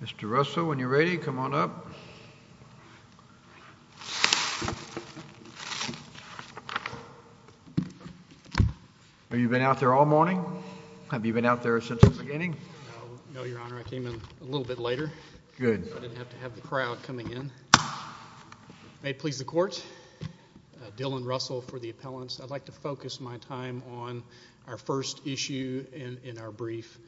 Mr. Russell, when you're ready, come on up. Have you been out there all morning? Have you been out there since the beginning? No, Your Honor. I came in a little bit later. Good. I didn't have to have the crowd coming in. May it please the Court, Dylan Russell for the appellants. I'd like to focus my time on our first issue in our brief,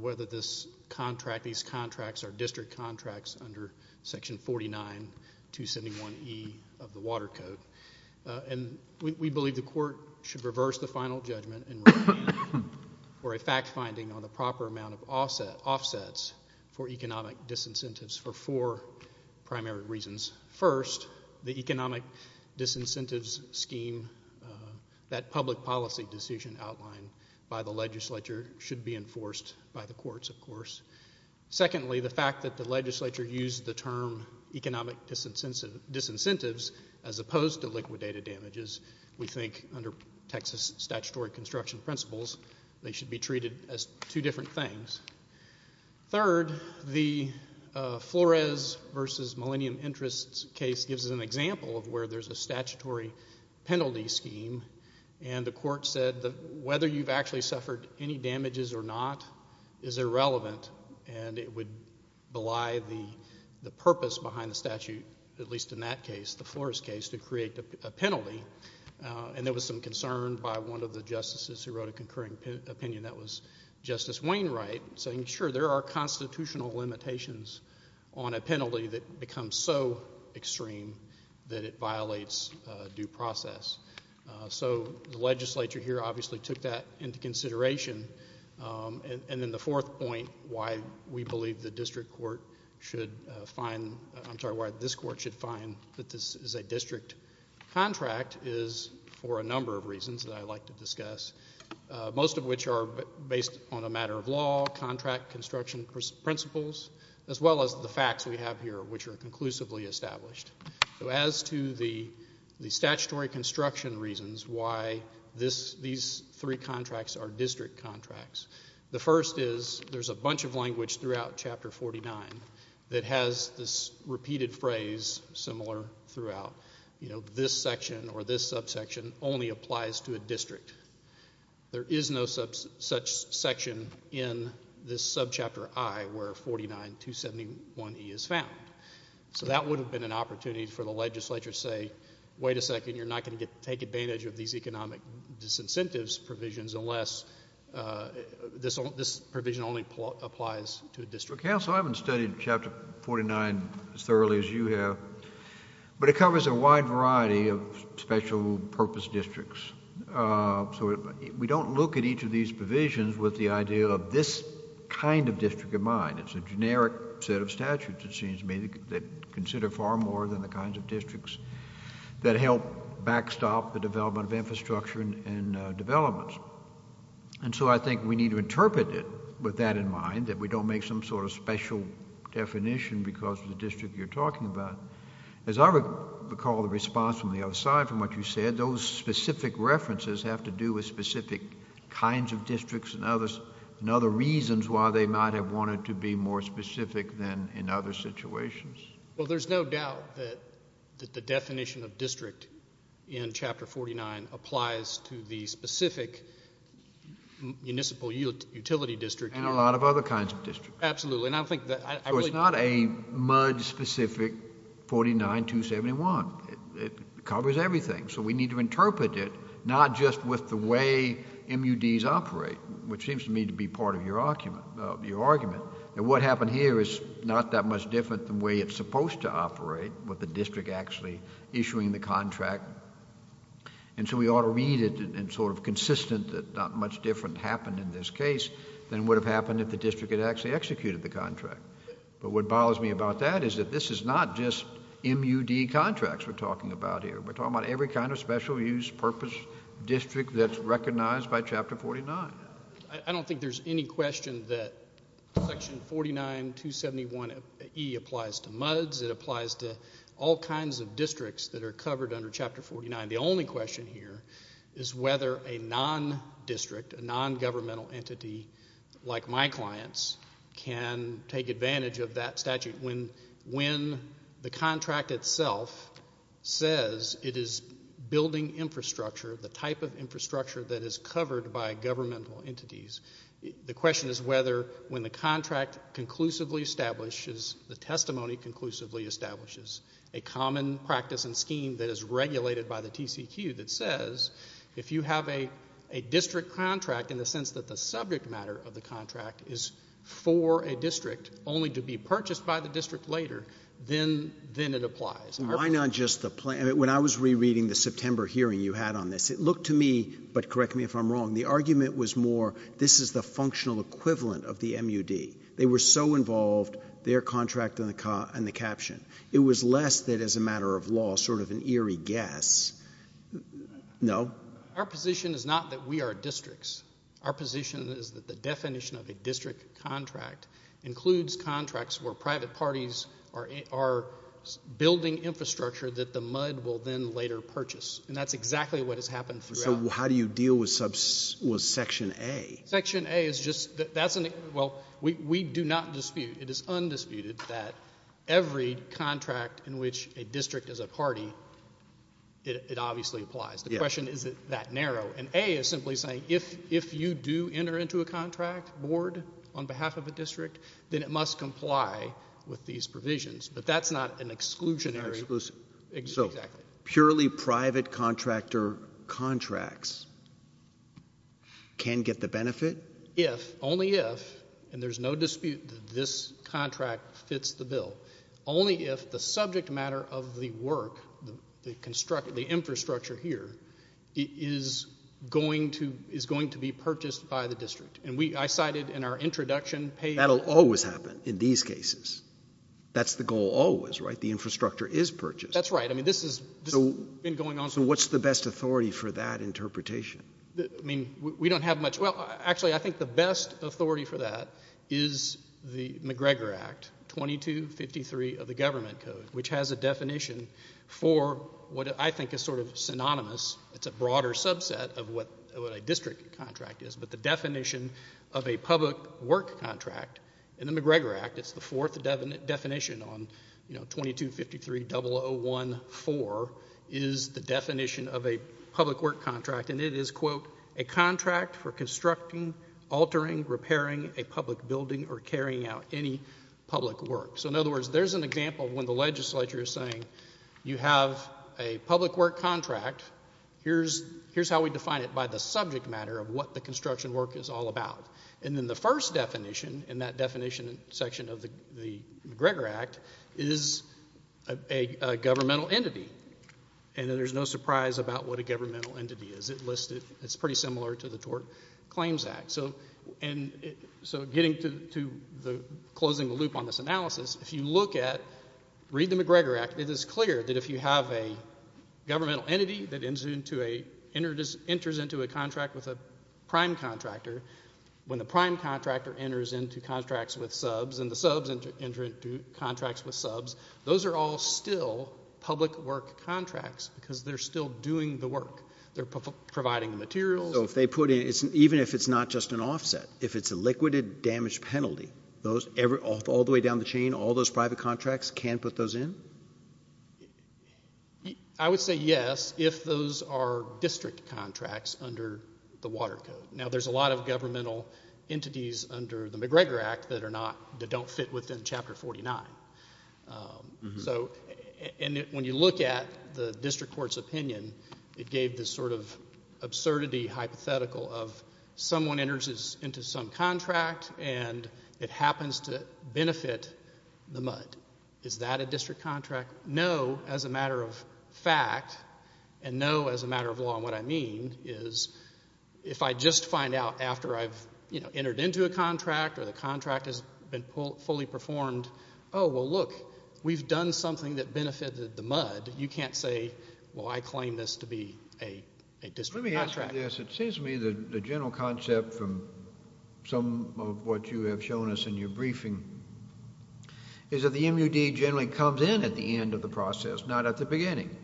whether these contracts are district contracts under section 49271E of the Water Code. We believe the Court should reverse the final judgment for a fact finding on the proper amount of offsets for economic disincentives for four primary reasons. First, the economic disincentives scheme, that public policy decision outlined by the legislature, should be enforced by the courts, of course. Secondly, the fact that the legislature used the term economic disincentives as opposed to liquidated damages, we think under Texas statutory construction principles, they should be treated as two different things. Third, the Flores v. Millennium Interest case gives an example of where there's a statutory penalty scheme, and the Court said that whether you've actually suffered any damages or not is irrelevant, and it would belie the purpose behind the statute, at least in that case, the Flores case, to create a penalty, and there was some concern by one of the justices who wrote a concurring opinion, that was Justice Wainwright, saying sure, there are constitutional limitations on a penalty that becomes so extreme that it violates due process. So the legislature here obviously took that into consideration. And then the fourth point, why we believe the district court should find, I'm sorry, why this court should find that this is a district contract, is for a number of reasons that I'd like to discuss, most of which are based on a matter of law, contract construction principles, as well as the facts we have here, which are conclusively established. So as to the statutory construction reasons why these three contracts are district contracts, the first is there's a bunch of language throughout Chapter 49 that has this repeated phrase similar throughout, you know, this section or this subsection only applies to a district. There is no such section in this subchapter I where 49271E is found. So that would have been an opportunity for the legislature to say, wait a second, you're not going to take advantage of these economic disincentives provisions unless this provision only applies to a district. Well, counsel, I haven't studied Chapter 49 as thoroughly as you have, but it covers a wide variety of special purpose districts. So we don't look at each of these provisions with the idea of this kind of district in mind. It's a generic set of statutes, it seems to me, that consider far more than the kinds of districts that help backstop the development of infrastructure and developments. And so I think we need to interpret it with that in mind, that we don't make some sort of special definition because of the district you're talking about. As I recall the response from the other side from what you said, and other reasons why they might have wanted to be more specific than in other situations. Well, there's no doubt that the definition of district in Chapter 49 applies to the specific municipal utility district. And a lot of other kinds of districts. Absolutely. So it's not a much specific 49271. It covers everything. So we need to interpret it not just with the way MUDs operate, which seems to me to be part of your argument. And what happened here is not that much different than the way it's supposed to operate, with the district actually issuing the contract. And so we ought to read it and sort of consistent that not much different happened in this case than would have happened if the district had actually executed the contract. But what bothers me about that is that this is not just MUD contracts we're talking about here. We're talking about every kind of special use purpose district that's recognized by Chapter 49. I don't think there's any question that Section 49271E applies to MUDs. It applies to all kinds of districts that are covered under Chapter 49. The only question here is whether a non-district, a non-governmental entity like my clients, can take advantage of that statute. When the contract itself says it is building infrastructure, the type of infrastructure that is covered by governmental entities, the question is whether when the contract conclusively establishes, the testimony conclusively establishes a common practice and scheme that is regulated by the TCQ that says if you have a district contract in the sense that the subject matter of the contract is for a district only to be purchased by the district later, then it applies. Why not just the plan? When I was rereading the September hearing you had on this, it looked to me, but correct me if I'm wrong, the argument was more this is the functional equivalent of the MUD. They were so involved, their contract and the caption. It was less that as a matter of law sort of an eerie guess. No? Our position is not that we are districts. Our position is that the definition of a district contract includes contracts where private parties are building infrastructure that the MUD will then later purchase, and that's exactly what has happened throughout. So how do you deal with Section A? Section A is just that's an – well, we do not dispute. It is undisputed that every contract in which a district is a party, it obviously applies. The question is, is it that narrow? And A is simply saying if you do enter into a contract board on behalf of a district, then it must comply with these provisions. But that's not an exclusionary. So purely private contractor contracts can get the benefit? If, only if, and there's no dispute that this contract fits the bill, only if the subject matter of the work, the infrastructure here, is going to be purchased by the district. And I cited in our introduction page. That will always happen in these cases. That's the goal always, right? The infrastructure is purchased. That's right. I mean, this has been going on. So what's the best authority for that interpretation? I mean, we don't have much. Well, actually, I think the best authority for that is the McGregor Act, 2253 of the Government Code, which has a definition for what I think is sort of synonymous. It's a broader subset of what a district contract is. But the definition of a public work contract in the McGregor Act, it's the fourth definition on 2253.001.4, is the definition of a public work contract. And it is, quote, a contract for constructing, altering, repairing a public building, or carrying out any public work. So in other words, there's an example of when the legislature is saying, you have a public work contract, here's how we define it by the subject matter of what the construction work is all about. And then the first definition in that definition section of the McGregor Act is a governmental entity. And there's no surprise about what a governmental entity is. It's pretty similar to the Tort Claims Act. So getting to closing the loop on this analysis, if you look at, read the McGregor Act, it is clear that if you have a governmental entity that enters into a contract with a prime contractor, when the prime contractor enters into contracts with subs and the subs enter into contracts with subs, those are all still public work contracts because they're still doing the work. They're providing the materials. So if they put in, even if it's not just an offset, if it's a liquidated damage penalty, all the way down the chain, all those private contracts, can't put those in? I would say yes if those are district contracts under the Water Code. Now, there's a lot of governmental entities under the McGregor Act that don't fit within Chapter 49. So when you look at the district court's opinion, it gave this sort of absurdity hypothetical of someone enters into some contract and it happens to benefit the MUD. Is that a district contract? No, as a matter of fact, and no, as a matter of law. And what I mean is if I just find out after I've entered into a contract or the contract has been fully performed, oh, well, look, we've done something that benefited the MUD, you can't say, well, I claim this to be a district contract. Let me ask you this. It seems to me the general concept from some of what you have shown us in your briefing is that the MUD generally comes in at the end of the process, not at the beginning,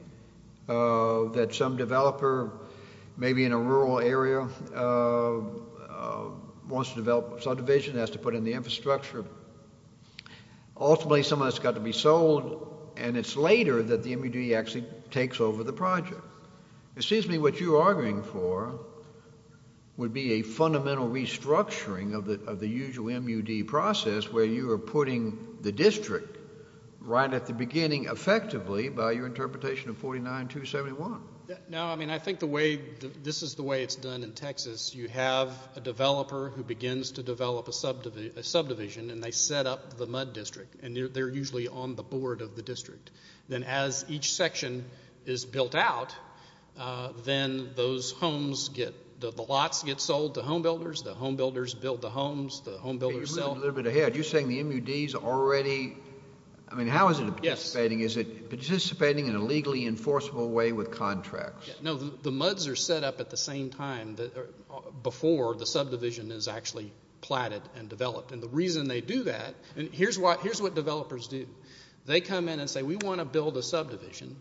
that some developer maybe in a rural area wants to develop subdivision, has to put in the infrastructure. Ultimately, some of that's got to be sold, and it's later that the MUD actually takes over the project. It seems to me what you're arguing for would be a fundamental restructuring of the usual MUD process where you are putting the district right at the beginning effectively by your interpretation of 49-271. No, I mean I think the way this is the way it's done in Texas, you have a developer who begins to develop a subdivision, and they set up the MUD district, and they're usually on the board of the district. Then as each section is built out, then those homes get – the lots get sold to homebuilders, the homebuilders build the homes, the homebuilders sell. A little bit ahead, you're saying the MUD is already – I mean how is it participating? Is it participating in a legally enforceable way with contracts? No, the MUDs are set up at the same time before the subdivision is actually platted and developed, and the reason they do that – and here's what developers do. They come in and say we want to build a subdivision,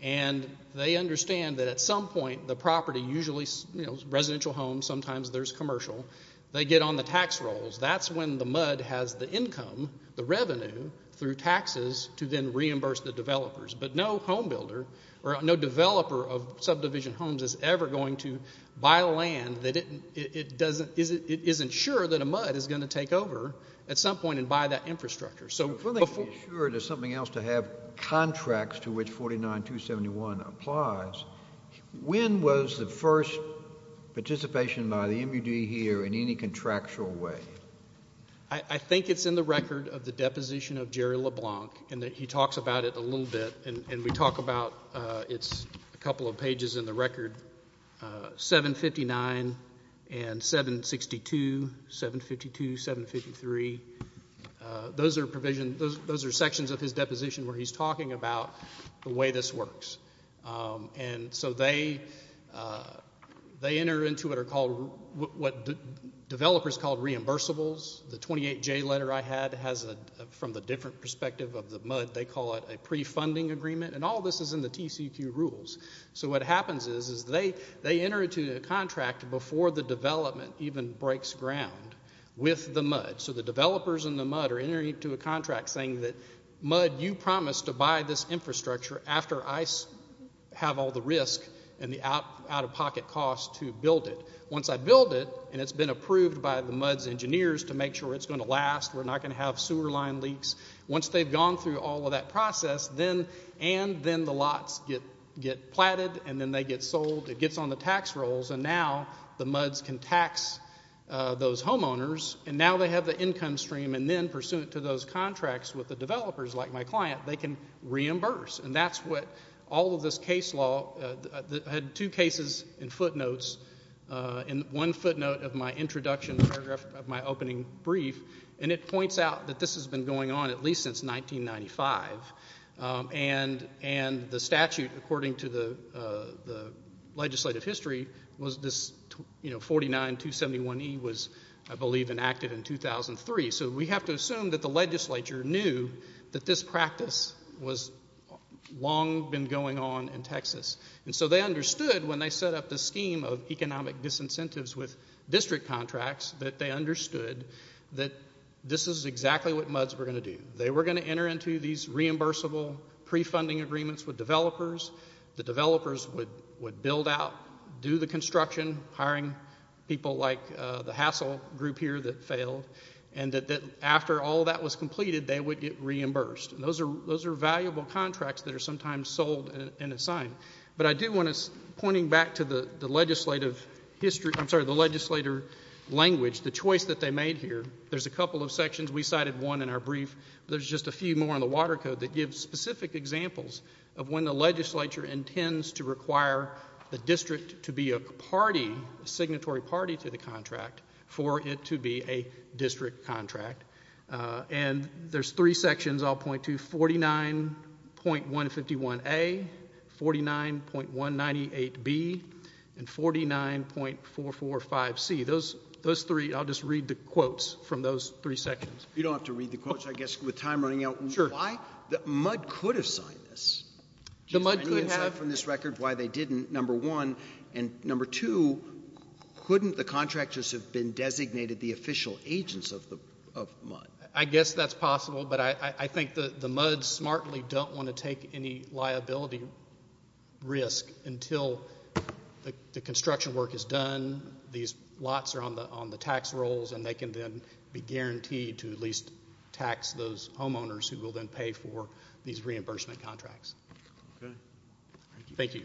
and they understand that at some point the property usually – residential homes, sometimes there's commercial – they get on the tax rolls. That's when the MUD has the income, the revenue, through taxes to then reimburse the developers. But no homebuilder or no developer of subdivision homes is ever going to buy land that it doesn't – it isn't sure that a MUD is going to take over at some point and buy that infrastructure. So before – I'm trying to make sure there's something else to have contracts to which 49271 applies. When was the first participation by the MUD here in any contractual way? I think it's in the record of the deposition of Jerry LeBlanc, and he talks about it a little bit, and we talk about it's a couple of pages in the record, 759 and 762, 752, 753. Those are provisions – those are sections of his deposition where he's talking about the way this works. And so they enter into what are called – what developers call reimbursables. The 28J letter I had has a – from the different perspective of the MUD, they call it a pre-funding agreement, and all this is in the TCEQ rules. So what happens is they enter into a contract before the development even breaks ground with the MUD. So the developers in the MUD are entering into a contract saying that, MUD, you promised to buy this infrastructure after I have all the risk and the out-of-pocket cost to build it. Once I build it and it's been approved by the MUD's engineers to make sure it's going to last, we're not going to have sewer line leaks, once they've gone through all of that process, and then the lots get platted and then they get sold, it gets on the tax rolls, and now the MUDs can tax those homeowners, and now they have the income stream, and then pursuant to those contracts with the developers, like my client, they can reimburse. And that's what all of this case law – I had two cases in footnotes, in one footnote of my introduction paragraph of my opening brief, and it points out that this has been going on at least since 1995. And the statute, according to the legislative history, was this 49271E was, I believe, enacted in 2003. So we have to assume that the legislature knew that this practice had long been going on in Texas. And so they understood when they set up the scheme of economic disincentives with district contracts that they understood that this is exactly what MUDs were going to do. They were going to enter into these reimbursable pre-funding agreements with developers. The developers would build out, do the construction, hiring people like the hassle group here that failed, and that after all that was completed, they would get reimbursed. And those are valuable contracts that are sometimes sold and assigned. But I do want to – pointing back to the legislative language, the choice that they made here, there's a couple of sections. We cited one in our brief, but there's just a few more in the Water Code that give specific examples of when the legislature intends to require the district to be a party, a signatory party to the contract for it to be a district contract. And there's three sections I'll point to, 49.151A, 49.198B, and 49.445C. Those three, I'll just read the quotes from those three sections. You don't have to read the quotes. I guess with time running out, why – MUD could have signed this. Do you have any insight from this record why they didn't, number one? And number two, couldn't the contractors have been designated the official agents of MUD? I guess that's possible, but I think the MUDs smartly don't want to take any liability risk until the construction work is done, these lots are on the tax rolls, and they can then be guaranteed to at least tax those homeowners who will then pay for these reimbursement contracts. Thank you.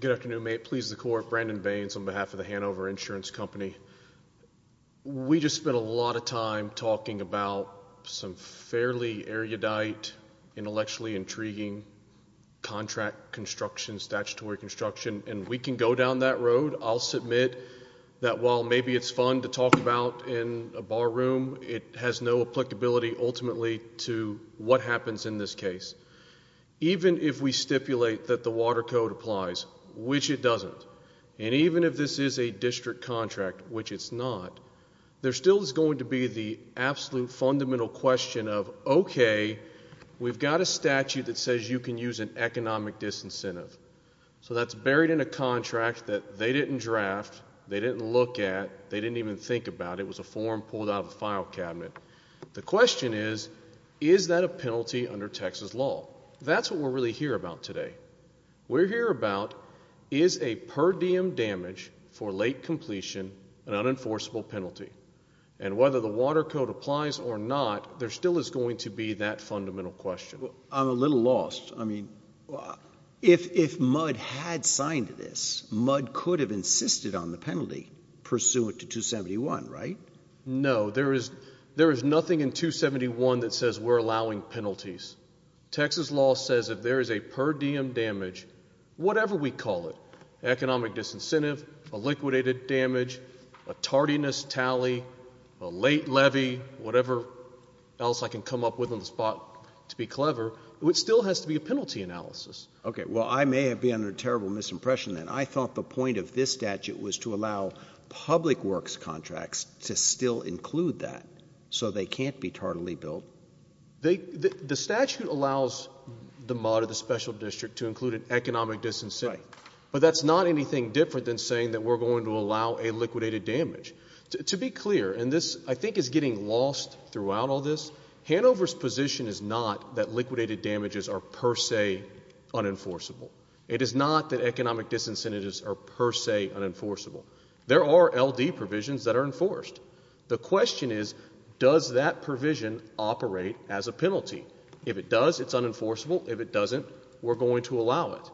Good afternoon. May it please the Court, Brandon Baines on behalf of the Hanover Insurance Company. We just spent a lot of time talking about some fairly erudite, intellectually intriguing contract construction, statutory construction, and we can go down that road. I'll submit that while maybe it's fun to talk about in a bar room, it has no applicability ultimately to what happens in this case. Even if we stipulate that the Water Code applies, which it doesn't, and even if this is a district contract, which it's not, there still is going to be the absolute fundamental question of, okay, we've got a statute that says you can use an economic disincentive. So that's buried in a contract that they didn't draft, they didn't look at, they didn't even think about. It was a form pulled out of the file cabinet. The question is, is that a penalty under Texas law? That's what we're really here about today. We're here about, is a per diem damage for late completion an unenforceable penalty? And whether the Water Code applies or not, there still is going to be that fundamental question. I'm a little lost. I mean, if Mudd had signed this, Mudd could have insisted on the penalty pursuant to 271, right? No. There is nothing in 271 that says we're allowing penalties. Texas law says if there is a per diem damage, whatever we call it, economic disincentive, a liquidated damage, a tardiness tally, a late levy, whatever else I can come up with on the spot to be clever, it still has to be a penalty analysis. Okay. Well, I may have been under a terrible misimpression, and I thought the point of this statute was to allow public works contracts to still include that so they can't be tardily billed. The statute allows the Mudd or the special district to include an economic disincentive. Right. But that's not anything different than saying that we're going to allow a liquidated damage. To be clear, and this I think is getting lost throughout all this, Hanover's position is not that liquidated damages are per se unenforceable. It is not that economic disincentives are per se unenforceable. There are LD provisions that are enforced. The question is, does that provision operate as a penalty? If it does, it's unenforceable. If it doesn't, we're going to allow it.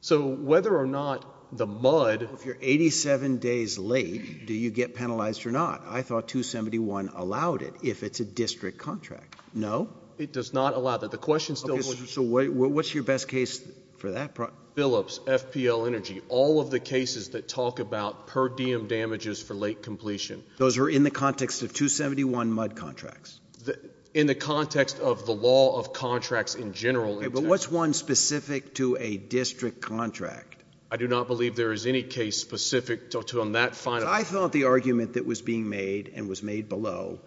So whether or not the Mudd. If you're 87 days late, do you get penalized or not? I thought 271 allowed it if it's a district contract. No. It does not allow that. The question still holds. So what's your best case for that? Phillips, FPL Energy. All of the cases that talk about per diem damages for late completion. Those are in the context of 271 Mudd contracts. In the context of the law of contracts in general. But what's one specific to a district contract? I do not believe there is any case specific to that final. What I thought the argument that was being made and was made below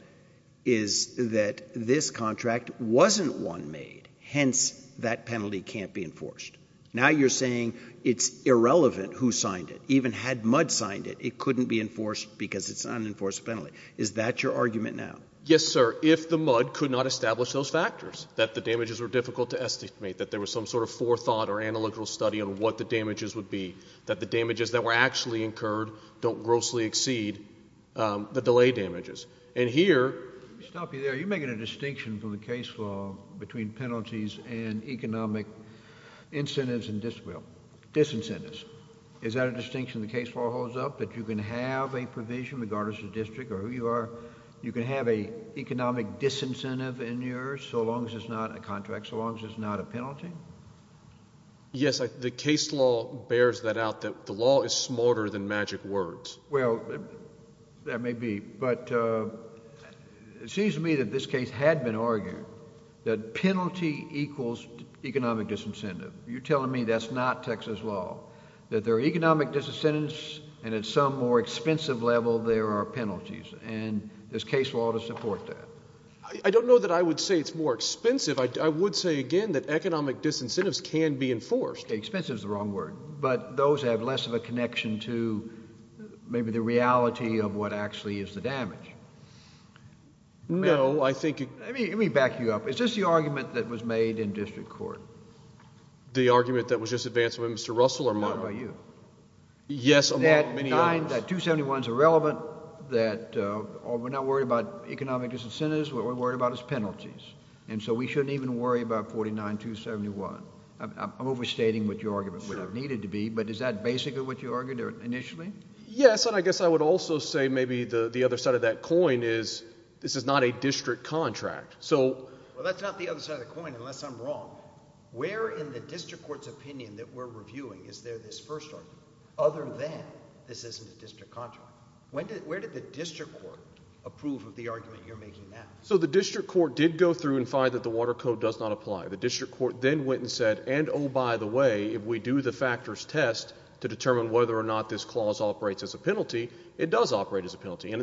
is that this contract wasn't one made. Hence, that penalty can't be enforced. Now you're saying it's irrelevant who signed it. Even had Mudd signed it, it couldn't be enforced because it's an unenforced penalty. Is that your argument now? Yes, sir. If the Mudd could not establish those factors, that the damages were difficult to estimate, that there was some sort of forethought or analytical study on what the damages would be, that the damages that were actually incurred don't grossly exceed the delay damages. And here. Let me stop you there. You're making a distinction from the case law between penalties and economic incentives and disincentives. Is that a distinction the case law holds up, that you can have a provision regardless of district or who you are, you can have an economic disincentive in yours so long as it's not a contract, so long as it's not a penalty? Yes. The case law bears that out, that the law is smarter than magic words. Well, that may be. But it seems to me that this case had been argued that penalty equals economic disincentive. You're telling me that's not Texas law, that there are economic disincentives and at some more expensive level there are penalties. And there's case law to support that. I don't know that I would say it's more expensive. I would say, again, that economic disincentives can be enforced. Expensive is the wrong word. But those have less of a connection to maybe the reality of what actually is the damage. No, I think. Let me back you up. Is this the argument that was made in district court? The argument that was just advanced by Mr. Russell or mine? Or by you? Yes. That 271 is irrelevant, that we're not worried about economic disincentives. What we're worried about is penalties. And so we shouldn't even worry about 49271. I'm overstating what your argument would have needed to be. But is that basically what you argued initially? Yes, and I guess I would also say maybe the other side of that coin is this is not a district contract. Well, that's not the other side of the coin, unless I'm wrong. Where in the district court's opinion that we're reviewing is there this first argument, other than this isn't a district contract? Where did the district court approve of the argument you're making now? So the district court did go through and find that the Water Code does not apply. The district court then went and said, and oh, by the way, if we do the factors test to determine whether or not this clause operates as a penalty, it does operate as a penalty. And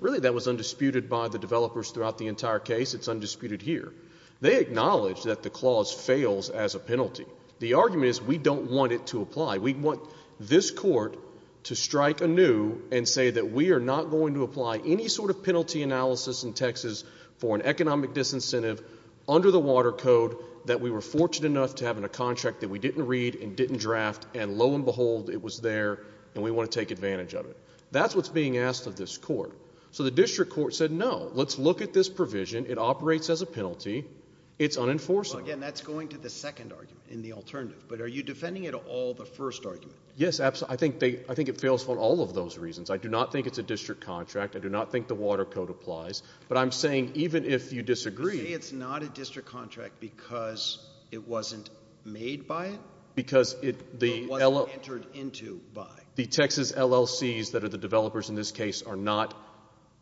really that was undisputed by the developers throughout the entire case. It's undisputed here. They acknowledged that the clause fails as a penalty. The argument is we don't want it to apply. We want this court to strike anew and say that we are not going to apply any sort of penalty analysis in Texas for an economic disincentive under the Water Code that we were fortunate enough to have in a contract that we didn't read and didn't draft, and lo and behold it was there and we want to take advantage of it. That's what's being asked of this court. So the district court said, no, let's look at this provision. It operates as a penalty. It's unenforceable. Well, again, that's going to the second argument in the alternative. But are you defending it at all the first argument? Yes, absolutely. I think it fails for all of those reasons. I do not think it's a district contract. I do not think the Water Code applies. But I'm saying even if you disagree. You're saying it's not a district contract because it wasn't made by it? Because it wasn't entered into by. The Texas LLCs that are the developers in this case are not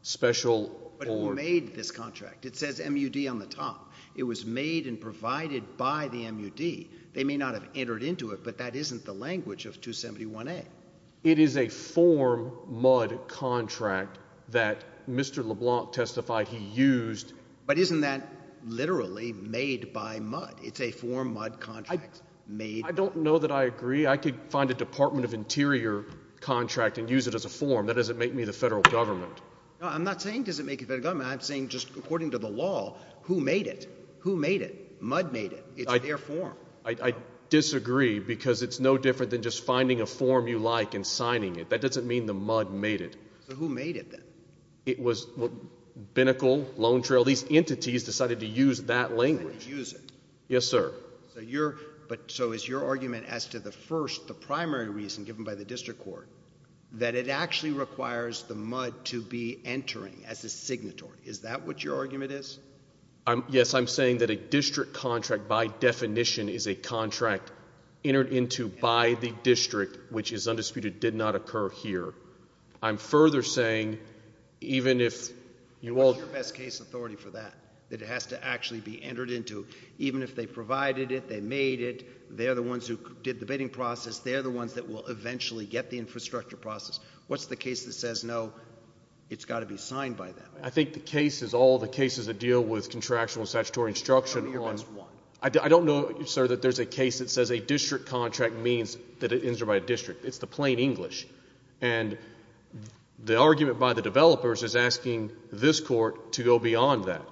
special or... But who made this contract. It says MUD on the top. It was made and provided by the MUD. They may not have entered into it, but that isn't the language of 271A. It is a form MUD contract that Mr. LeBlanc testified he used. But isn't that literally made by MUD? It's a form MUD contract made... I don't know that I agree. I could find a Department of Interior contract and use it as a form. That doesn't make me the federal government. No, I'm not saying it doesn't make you the federal government. I'm saying just according to the law, who made it? Who made it? MUD made it. It's their form. I disagree because it's no different than just finding a form you like and signing it. That doesn't mean the MUD made it. So who made it then? It was Binnacle Loan Trail. These entities decided to use that language. Use it. Yes, sir. So is your argument as to the first, the primary reason given by the district court, that it actually requires the MUD to be entering as a signatory? Is that what your argument is? Yes, I'm saying that a district contract by definition is a contract entered into by the district, which is undisputed, did not occur here. I'm further saying even if you all... What's your best case authority for that, that it has to actually be entered into? Even if they provided it, they made it, they're the ones who did the bidding process, they're the ones that will eventually get the infrastructure process. What's the case that says, no, it's got to be signed by them? I think the case is all the cases that deal with contractual and statutory instruction on... I don't know your best one. I don't know, sir, that there's a case that says a district contract means that it enters by a district. It's the plain English. And the argument by the developers is asking this court to go beyond that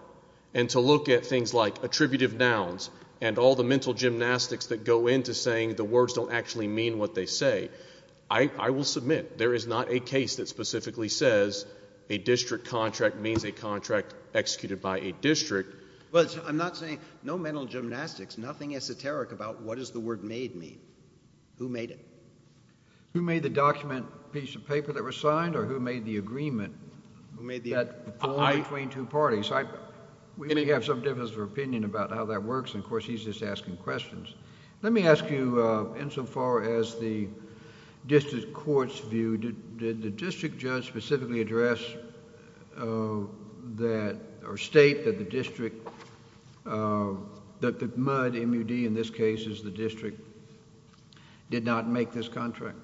and to look at things like attributive nouns and all the mental gymnastics that go into saying the words don't actually mean what they say. I will submit there is not a case that specifically says a district contract means a contract executed by a district. But I'm not saying no mental gymnastics, nothing esoteric about what does the word made mean? Who made it? Who made the document piece of paper that was signed or who made the agreement? Who made the agreement? That formed between two parties. We may have some difference of opinion about how that works, and of course he's just asking questions. Let me ask you insofar as the district court's view, did the district judge specifically address that... or state that the district... that the MUD, M-U-D in this case is the district, did not make this contract?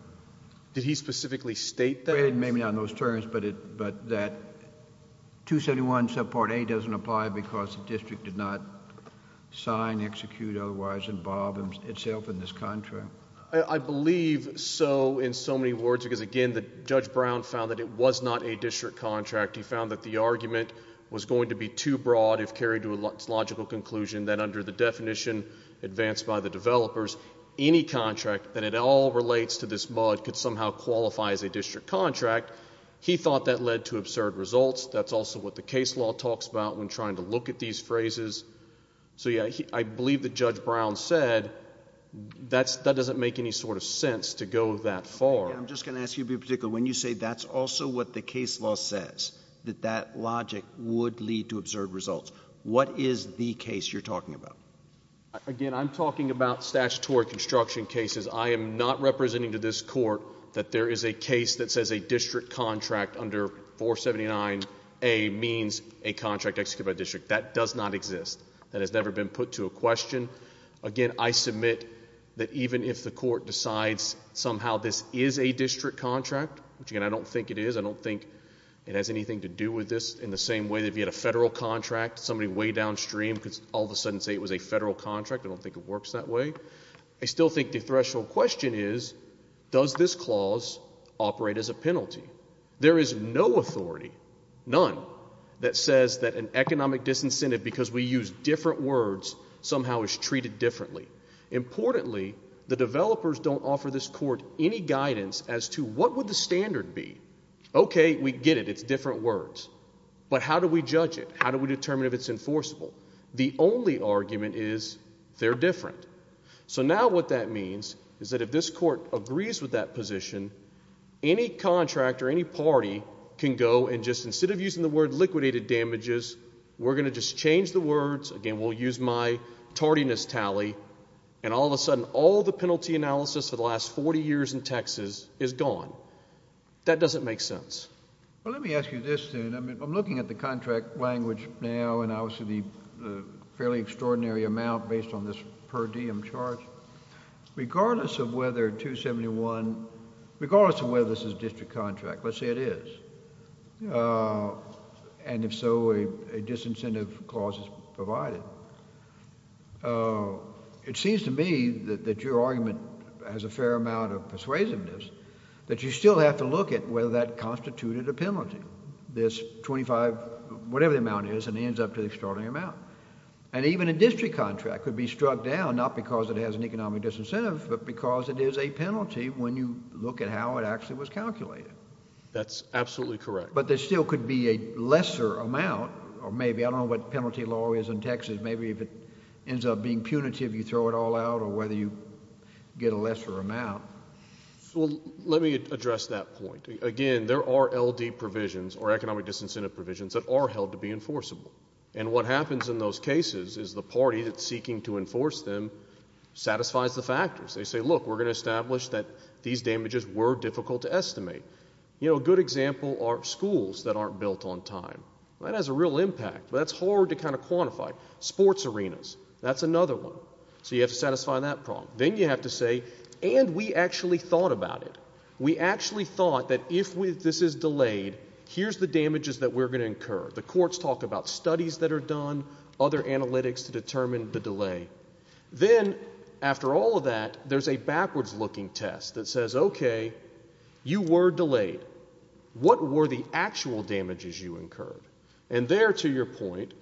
Did he specifically state that? Maybe not in those terms, but that 271 subpart A doesn't apply because the district did not sign, execute, or otherwise involve itself in this contract. I believe so, in so many words, because again, Judge Brown found that it was not a district contract. He found that the argument was going to be too broad if carried to its logical conclusion that under the definition advanced by the developers, any contract that at all relates to this MUD could somehow qualify as a district contract. He thought that led to absurd results. That's also what the case law talks about when trying to look at these phrases. So yeah, I believe that Judge Brown said that doesn't make any sort of sense to go that far. I'm just going to ask you to be particular. When you say that's also what the case law says, that that logic would lead to absurd results, what is the case you're talking about? Again, I'm talking about statutory construction cases. I am not representing to this court that there is a case that says a district contract under 479A means a contract executed by a district. That does not exist. That has never been put to a question. Again, I submit that even if the court decides somehow this is a district contract, which again I don't think it is, I don't think it has anything to do with this in the same way that if you had a federal contract, somebody way downstream could all of a sudden say it was a federal contract. I don't think it works that way. I still think the threshold question is does this clause operate as a penalty? There is no authority, none, that says that an economic disincentive because we use different words somehow is treated differently. Importantly, the developers don't offer this court any guidance as to what would the standard be. Okay, we get it. It's different words. But how do we judge it? How do we determine if it's enforceable? The only argument is they're different. So now what that means is that if this court agrees with that position, any contract or any party can go and just instead of using the word liquidated damages, we're going to just change the words. Again, we'll use my tardiness tally. And all of a sudden all the penalty analysis for the last 40 years in Texas is gone. That doesn't make sense. Well, let me ask you this then. I'm looking at the contract language now and obviously the fairly extraordinary amount based on this per diem charge. Regardless of whether 271, regardless of whether this is a district contract, let's say it is, and if so a disincentive clause is provided, it seems to me that your argument has a fair amount of persuasiveness that you still have to look at whether that constituted a penalty. This 25, whatever the amount is, and it ends up to the extraordinary amount. And even a district contract could be struck down, not because it has an economic disincentive, but because it is a penalty when you look at how it actually was calculated. That's absolutely correct. But there still could be a lesser amount, or maybe, I don't know what penalty law is in Texas, maybe if it ends up being punitive you throw it all out or whether you get a lesser amount. Well, let me address that point. Again, there are LD provisions or economic disincentive provisions that are held to be enforceable. And what happens in those cases is the party that's seeking to enforce them satisfies the factors. They say, look, we're going to establish that these damages were difficult to estimate. You know, a good example are schools that aren't built on time. That has a real impact, but that's hard to kind of quantify. Sports arenas, that's another one. So you have to satisfy that problem. Then you have to say, and we actually thought about it. We actually thought that if this is delayed, here's the damages that we're going to incur. The courts talk about studies that are done, other analytics to determine the delay. Then, after all of that, there's a backwards-looking test that says, okay, you were delayed. What were the actual damages you incurred? And there, to your point,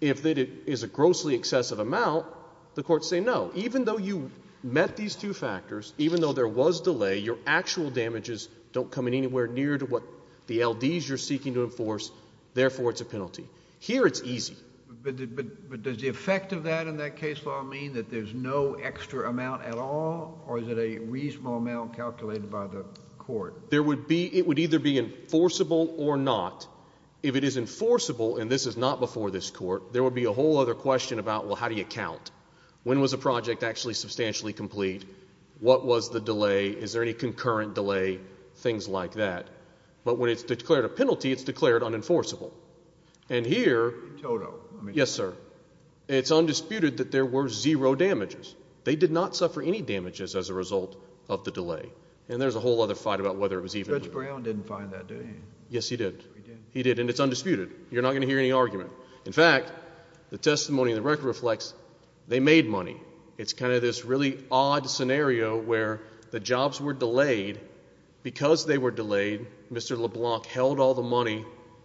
if it is a grossly excessive amount, the courts say no. Now, even though you met these two factors, even though there was delay, your actual damages don't come in anywhere near to what the L.D.s you're seeking to enforce. Therefore, it's a penalty. Here it's easy. But does the effect of that in that case law mean that there's no extra amount at all, or is it a reasonable amount calculated by the court? It would either be enforceable or not. If it is enforceable, and this is not before this court, there would be a whole other question about, well, how do you count? When was a project actually substantially complete? What was the delay? Is there any concurrent delay? Things like that. But when it's declared a penalty, it's declared unenforceable. And here, yes, sir, it's undisputed that there were zero damages. They did not suffer any damages as a result of the delay. And there's a whole other fight about whether it was even. Judge Brown didn't find that, did he? Yes, he did. He did. And it's undisputed. You're not going to hear any argument. In fact, the testimony in the record reflects they made money. It's kind of this really odd scenario where the jobs were delayed. Because they were delayed, Mr. LeBlanc held all the money.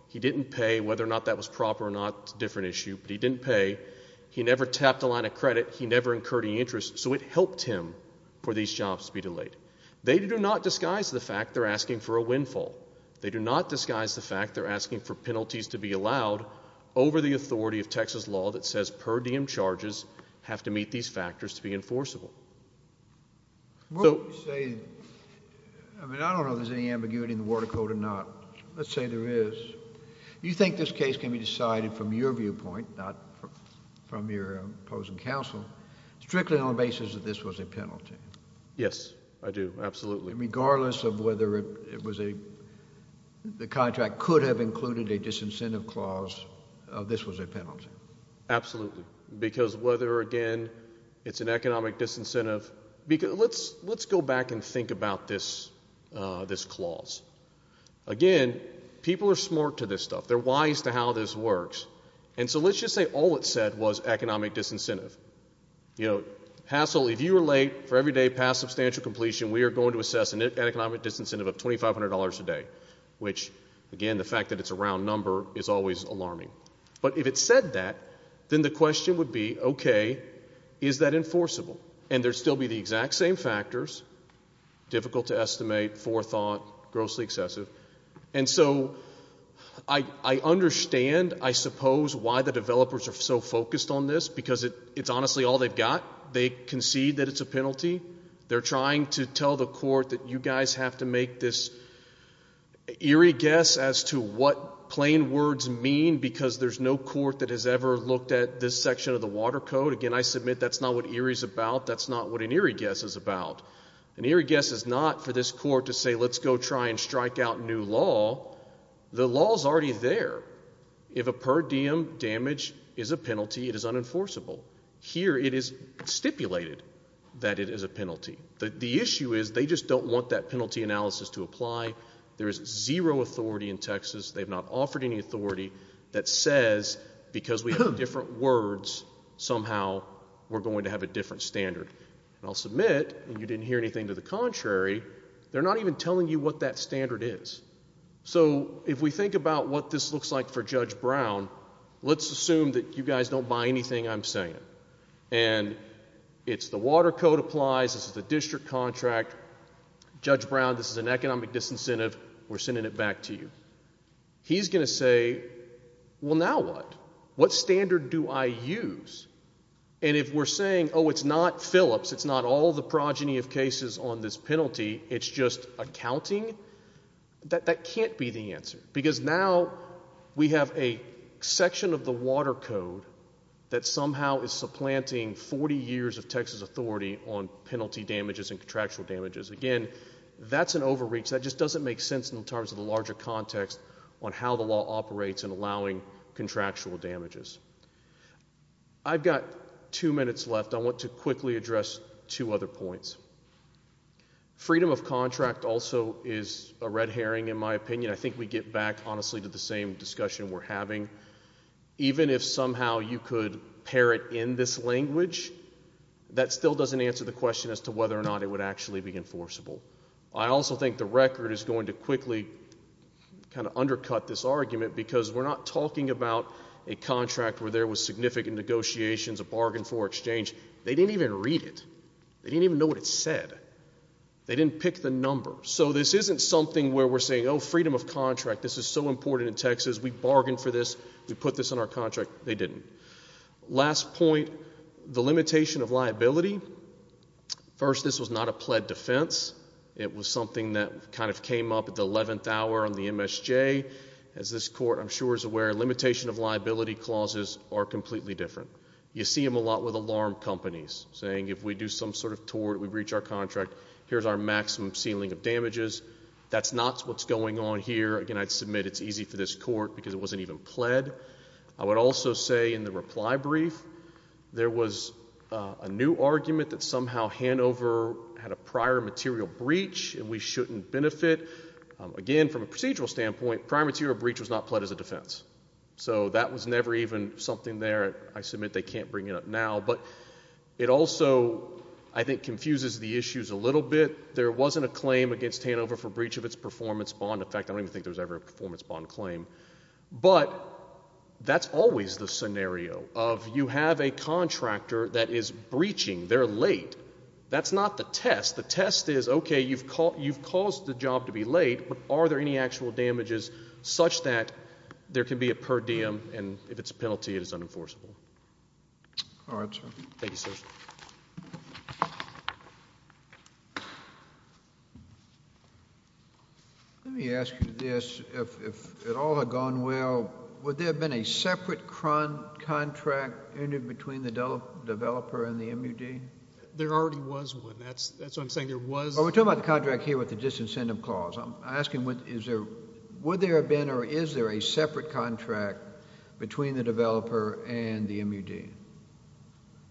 He didn't pay. Whether or not that was proper or not is a different issue. But he didn't pay. He never tapped a line of credit. He never incurred any interest. So it helped him for these jobs to be delayed. They do not disguise the fact they're asking for a windfall. They do not disguise the fact they're asking for penalties to be allowed over the authority of Texas law that says per diem charges have to meet these factors to be enforceable. What would you say? I mean, I don't know if there's any ambiguity in the Water Code or not. Let's say there is. Do you think this case can be decided from your viewpoint, not from your opposing counsel, strictly on the basis that this was a penalty? Yes, I do. Absolutely. Regardless of whether the contract could have included a disincentive clause, this was a penalty. Absolutely. Because whether, again, it's an economic disincentive. Let's go back and think about this clause. Again, people are smart to this stuff. They're wise to how this works. And so let's just say all it said was economic disincentive. You know, hassle, if you were late for every day past substantial completion, we are going to assess an economic disincentive of $2,500 a day, which, again, the fact that it's a round number is always alarming. But if it said that, then the question would be, okay, is that enforceable? And there would still be the exact same factors, difficult to estimate, forethought, grossly excessive. And so I understand, I suppose, why the developers are so focused on this, because it's honestly all they've got. They concede that it's a penalty. They're trying to tell the court that you guys have to make this eerie guess as to what plain words mean, because there's no court that has ever looked at this section of the Water Code. Again, I submit that's not what eerie is about. That's not what an eerie guess is about. An eerie guess is not for this court to say let's go try and strike out new law. The law is already there. If a per diem damage is a penalty, it is unenforceable. Here it is stipulated that it is a penalty. The issue is they just don't want that penalty analysis to apply. There is zero authority in Texas, they've not offered any authority, that says because we have different words, somehow we're going to have a different standard. And I'll submit, and you didn't hear anything to the contrary, they're not even telling you what that standard is. So if we think about what this looks like for Judge Brown, let's assume that you guys don't buy anything I'm saying. And it's the Water Code applies, this is the district contract, Judge Brown, this is an economic disincentive, we're sending it back to you. He's going to say, well now what? What standard do I use? And if we're saying, oh, it's not Phillips, it's not all the progeny of cases on this penalty, it's just accounting, that can't be the answer. Because now we have a section of the Water Code that somehow is supplanting 40 years of Texas authority on penalty damages and contractual damages. Again, that's an overreach, that just doesn't make sense in terms of the larger context on how the law operates in allowing contractual damages. I've got two minutes left. I want to quickly address two other points. Freedom of contract also is a red herring in my opinion. I think we get back, honestly, to the same discussion we're having. Even if somehow you could parrot in this language, that still doesn't answer the question as to whether or not it would actually be enforceable. I also think the record is going to quickly kind of undercut this argument because we're not talking about a contract where there was significant negotiations, a bargain for exchange. They didn't even read it. They didn't even know what it said. They didn't pick the number. So this isn't something where we're saying, oh, freedom of contract, this is so important in Texas, we bargained for this, we put this on our contract. They didn't. Last point, the limitation of liability. First, this was not a pled defense. It was something that kind of came up at the 11th hour on the MSJ. As this court, I'm sure, is aware, limitation of liability clauses are completely different. You see them a lot with alarm companies, saying if we do some sort of tort, we breach our contract, here's our maximum ceiling of damages. That's not what's going on here. Again, I'd submit it's easy for this court because it wasn't even pled. I would also say in the reply brief, there was a new argument that somehow Hanover had a prior material breach and we shouldn't benefit. Again, from a procedural standpoint, prior material breach was not pled as a defense. So that was never even something there. I submit they can't bring it up now. But it also, I think, confuses the issues a little bit. There wasn't a claim against Hanover for breach of its performance bond. In fact, I don't even think there was ever a performance bond claim. But that's always the scenario of you have a contractor that is breaching. They're late. That's not the test. The test is, okay, you've caused the job to be late, but are there any actual damages such that there can be a per diem and if it's a penalty, it is unenforceable. All right, sir. Thank you, sir. Let me ask you this. If it all had gone well, would there have been a separate contract between the developer and the MUD? There already was one. That's what I'm saying. We're talking about the contract here with the disincentive clause. I'm asking would there have been or is there a separate contract between the developer and the MUD?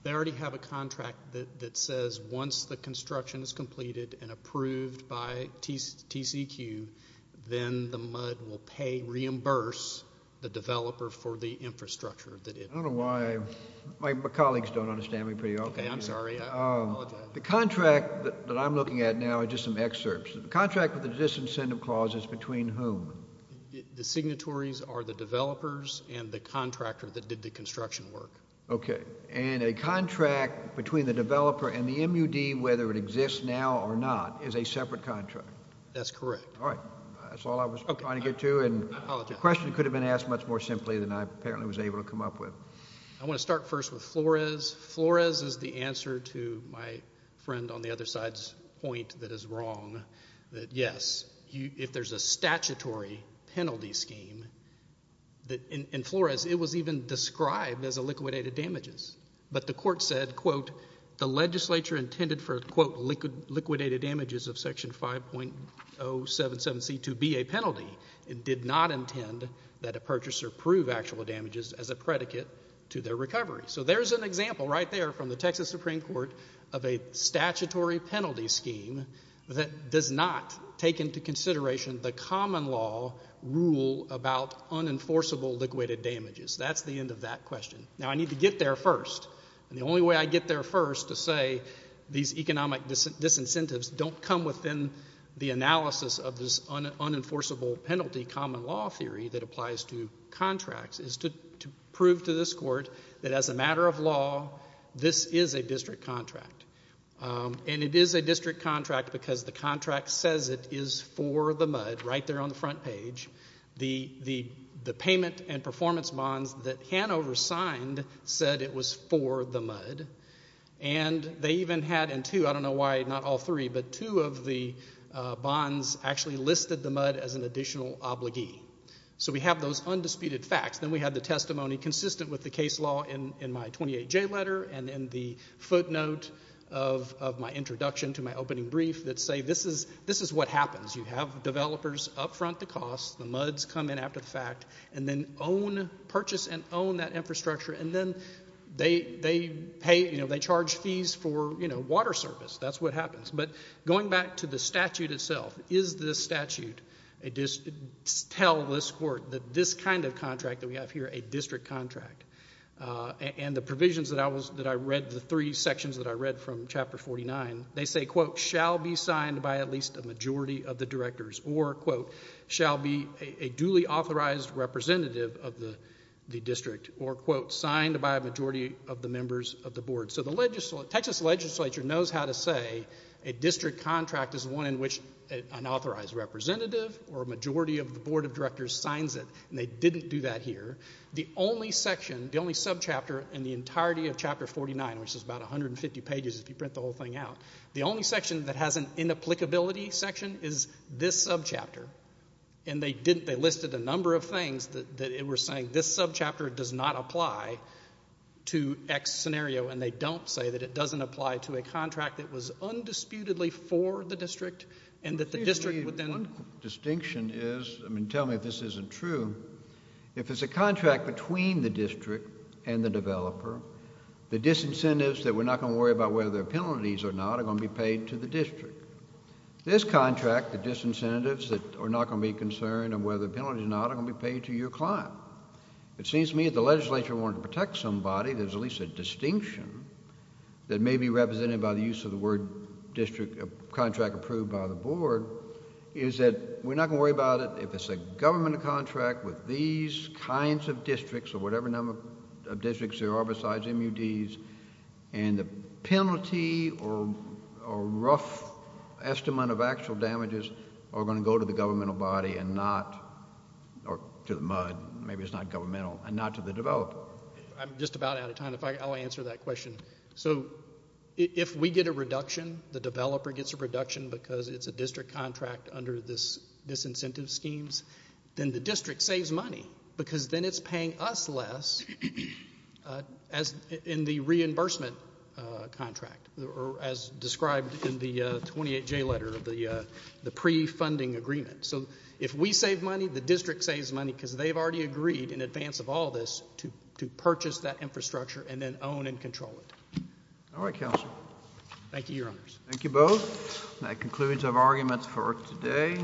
They already have a contract that says once the construction is completed and approved by TCEQ, then the MUD will reimburse the developer for the infrastructure. I don't know why my colleagues don't understand me pretty well. Okay, I'm sorry. I apologize. The contract that I'm looking at now are just some excerpts. The contract with the disincentive clause is between whom? The signatories are the developers and the contractor that did the construction work. Okay. And a contract between the developer and the MUD, whether it exists now or not, is a separate contract? That's correct. All right. That's all I was trying to get to, and the question could have been asked much more simply than I apparently was able to come up with. I want to start first with Flores. Flores is the answer to my friend on the other side's point that is wrong. Yes, if there's a statutory penalty scheme in Flores, it was even described as liquidated damages. But the court said, quote, the legislature intended for, quote, liquidated damages of Section 5.077C to be a penalty. It did not intend that a purchaser prove actual damages as a predicate to their recovery. So there's an example right there from the Texas Supreme Court of a statutory penalty scheme that does not take into consideration the common law rule about unenforceable liquidated damages. That's the end of that question. Now, I need to get there first, and the only way I get there first to say these economic disincentives don't come within the analysis of this unenforceable penalty common law theory that applies to contracts is to prove to this court that as a matter of law, this is a district contract. And it is a district contract because the contract says it is for the MUD, right there on the front page. The payment and performance bonds that Hanover signed said it was for the MUD. And they even had in two, I don't know why not all three, but two of the bonds actually listed the MUD as an additional obligee. So we have those undisputed facts. Then we have the testimony consistent with the case law in my 28J letter and in the footnote of my introduction to my opening brief that say this is what happens. You have developers up front the costs, the MUDs come in after the fact, and then purchase and own that infrastructure, and then they charge fees for water service. That's what happens. But going back to the statute itself, is this statute tell this court that this kind of contract that we have here, a district contract, and the provisions that I read, the three sections that I read from Chapter 49, they say, quote, shall be signed by at least a majority of the directors, or, quote, shall be a duly authorized representative of the district, or, quote, signed by a majority of the members of the board. So the Texas legislature knows how to say a district contract is one in which an authorized representative or a majority of the board of directors signs it, and they didn't do that here. The only section, the only subchapter in the entirety of Chapter 49, which is about 150 pages if you print the whole thing out, the only section that has an inapplicability section is this subchapter. And they listed a number of things that were saying this subchapter does not apply to X scenario, and they don't say that it doesn't apply to a contract that was undisputedly for the district and that the district would then... One distinction is, I mean, tell me if this isn't true, if it's a contract between the district and the developer, the disincentives that we're not going to worry about whether they're penalties or not are going to be paid to the district. This contract, the disincentives that are not going to be a concern or whether the penalty is not, are going to be paid to your client. It seems to me if the legislature wanted to protect somebody, there's at least a distinction that may be represented by the use of the word contract approved by the board, is that we're not going to worry about it if it's a government contract with these kinds of districts or whatever number of districts there are besides MUDs, and the penalty or rough estimate of actual damages are going to go to the governmental body and not... or to the MUD, maybe it's not governmental, and not to the developer. I'm just about out of time. I'll answer that question. So if we get a reduction, the developer gets a reduction because it's a district contract under this incentive schemes, then the district saves money because then it's paying us less in the reimbursement contract, or as described in the 28J letter of the pre-funding agreement. So if we save money, the district saves money because they've already agreed in advance of all this to purchase that infrastructure and then own and control it. All right, counsel. Thank you, Your Honors. Thank you both. That concludes our arguments for today.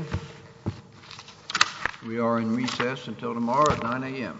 We are in recess until tomorrow at 9 a.m.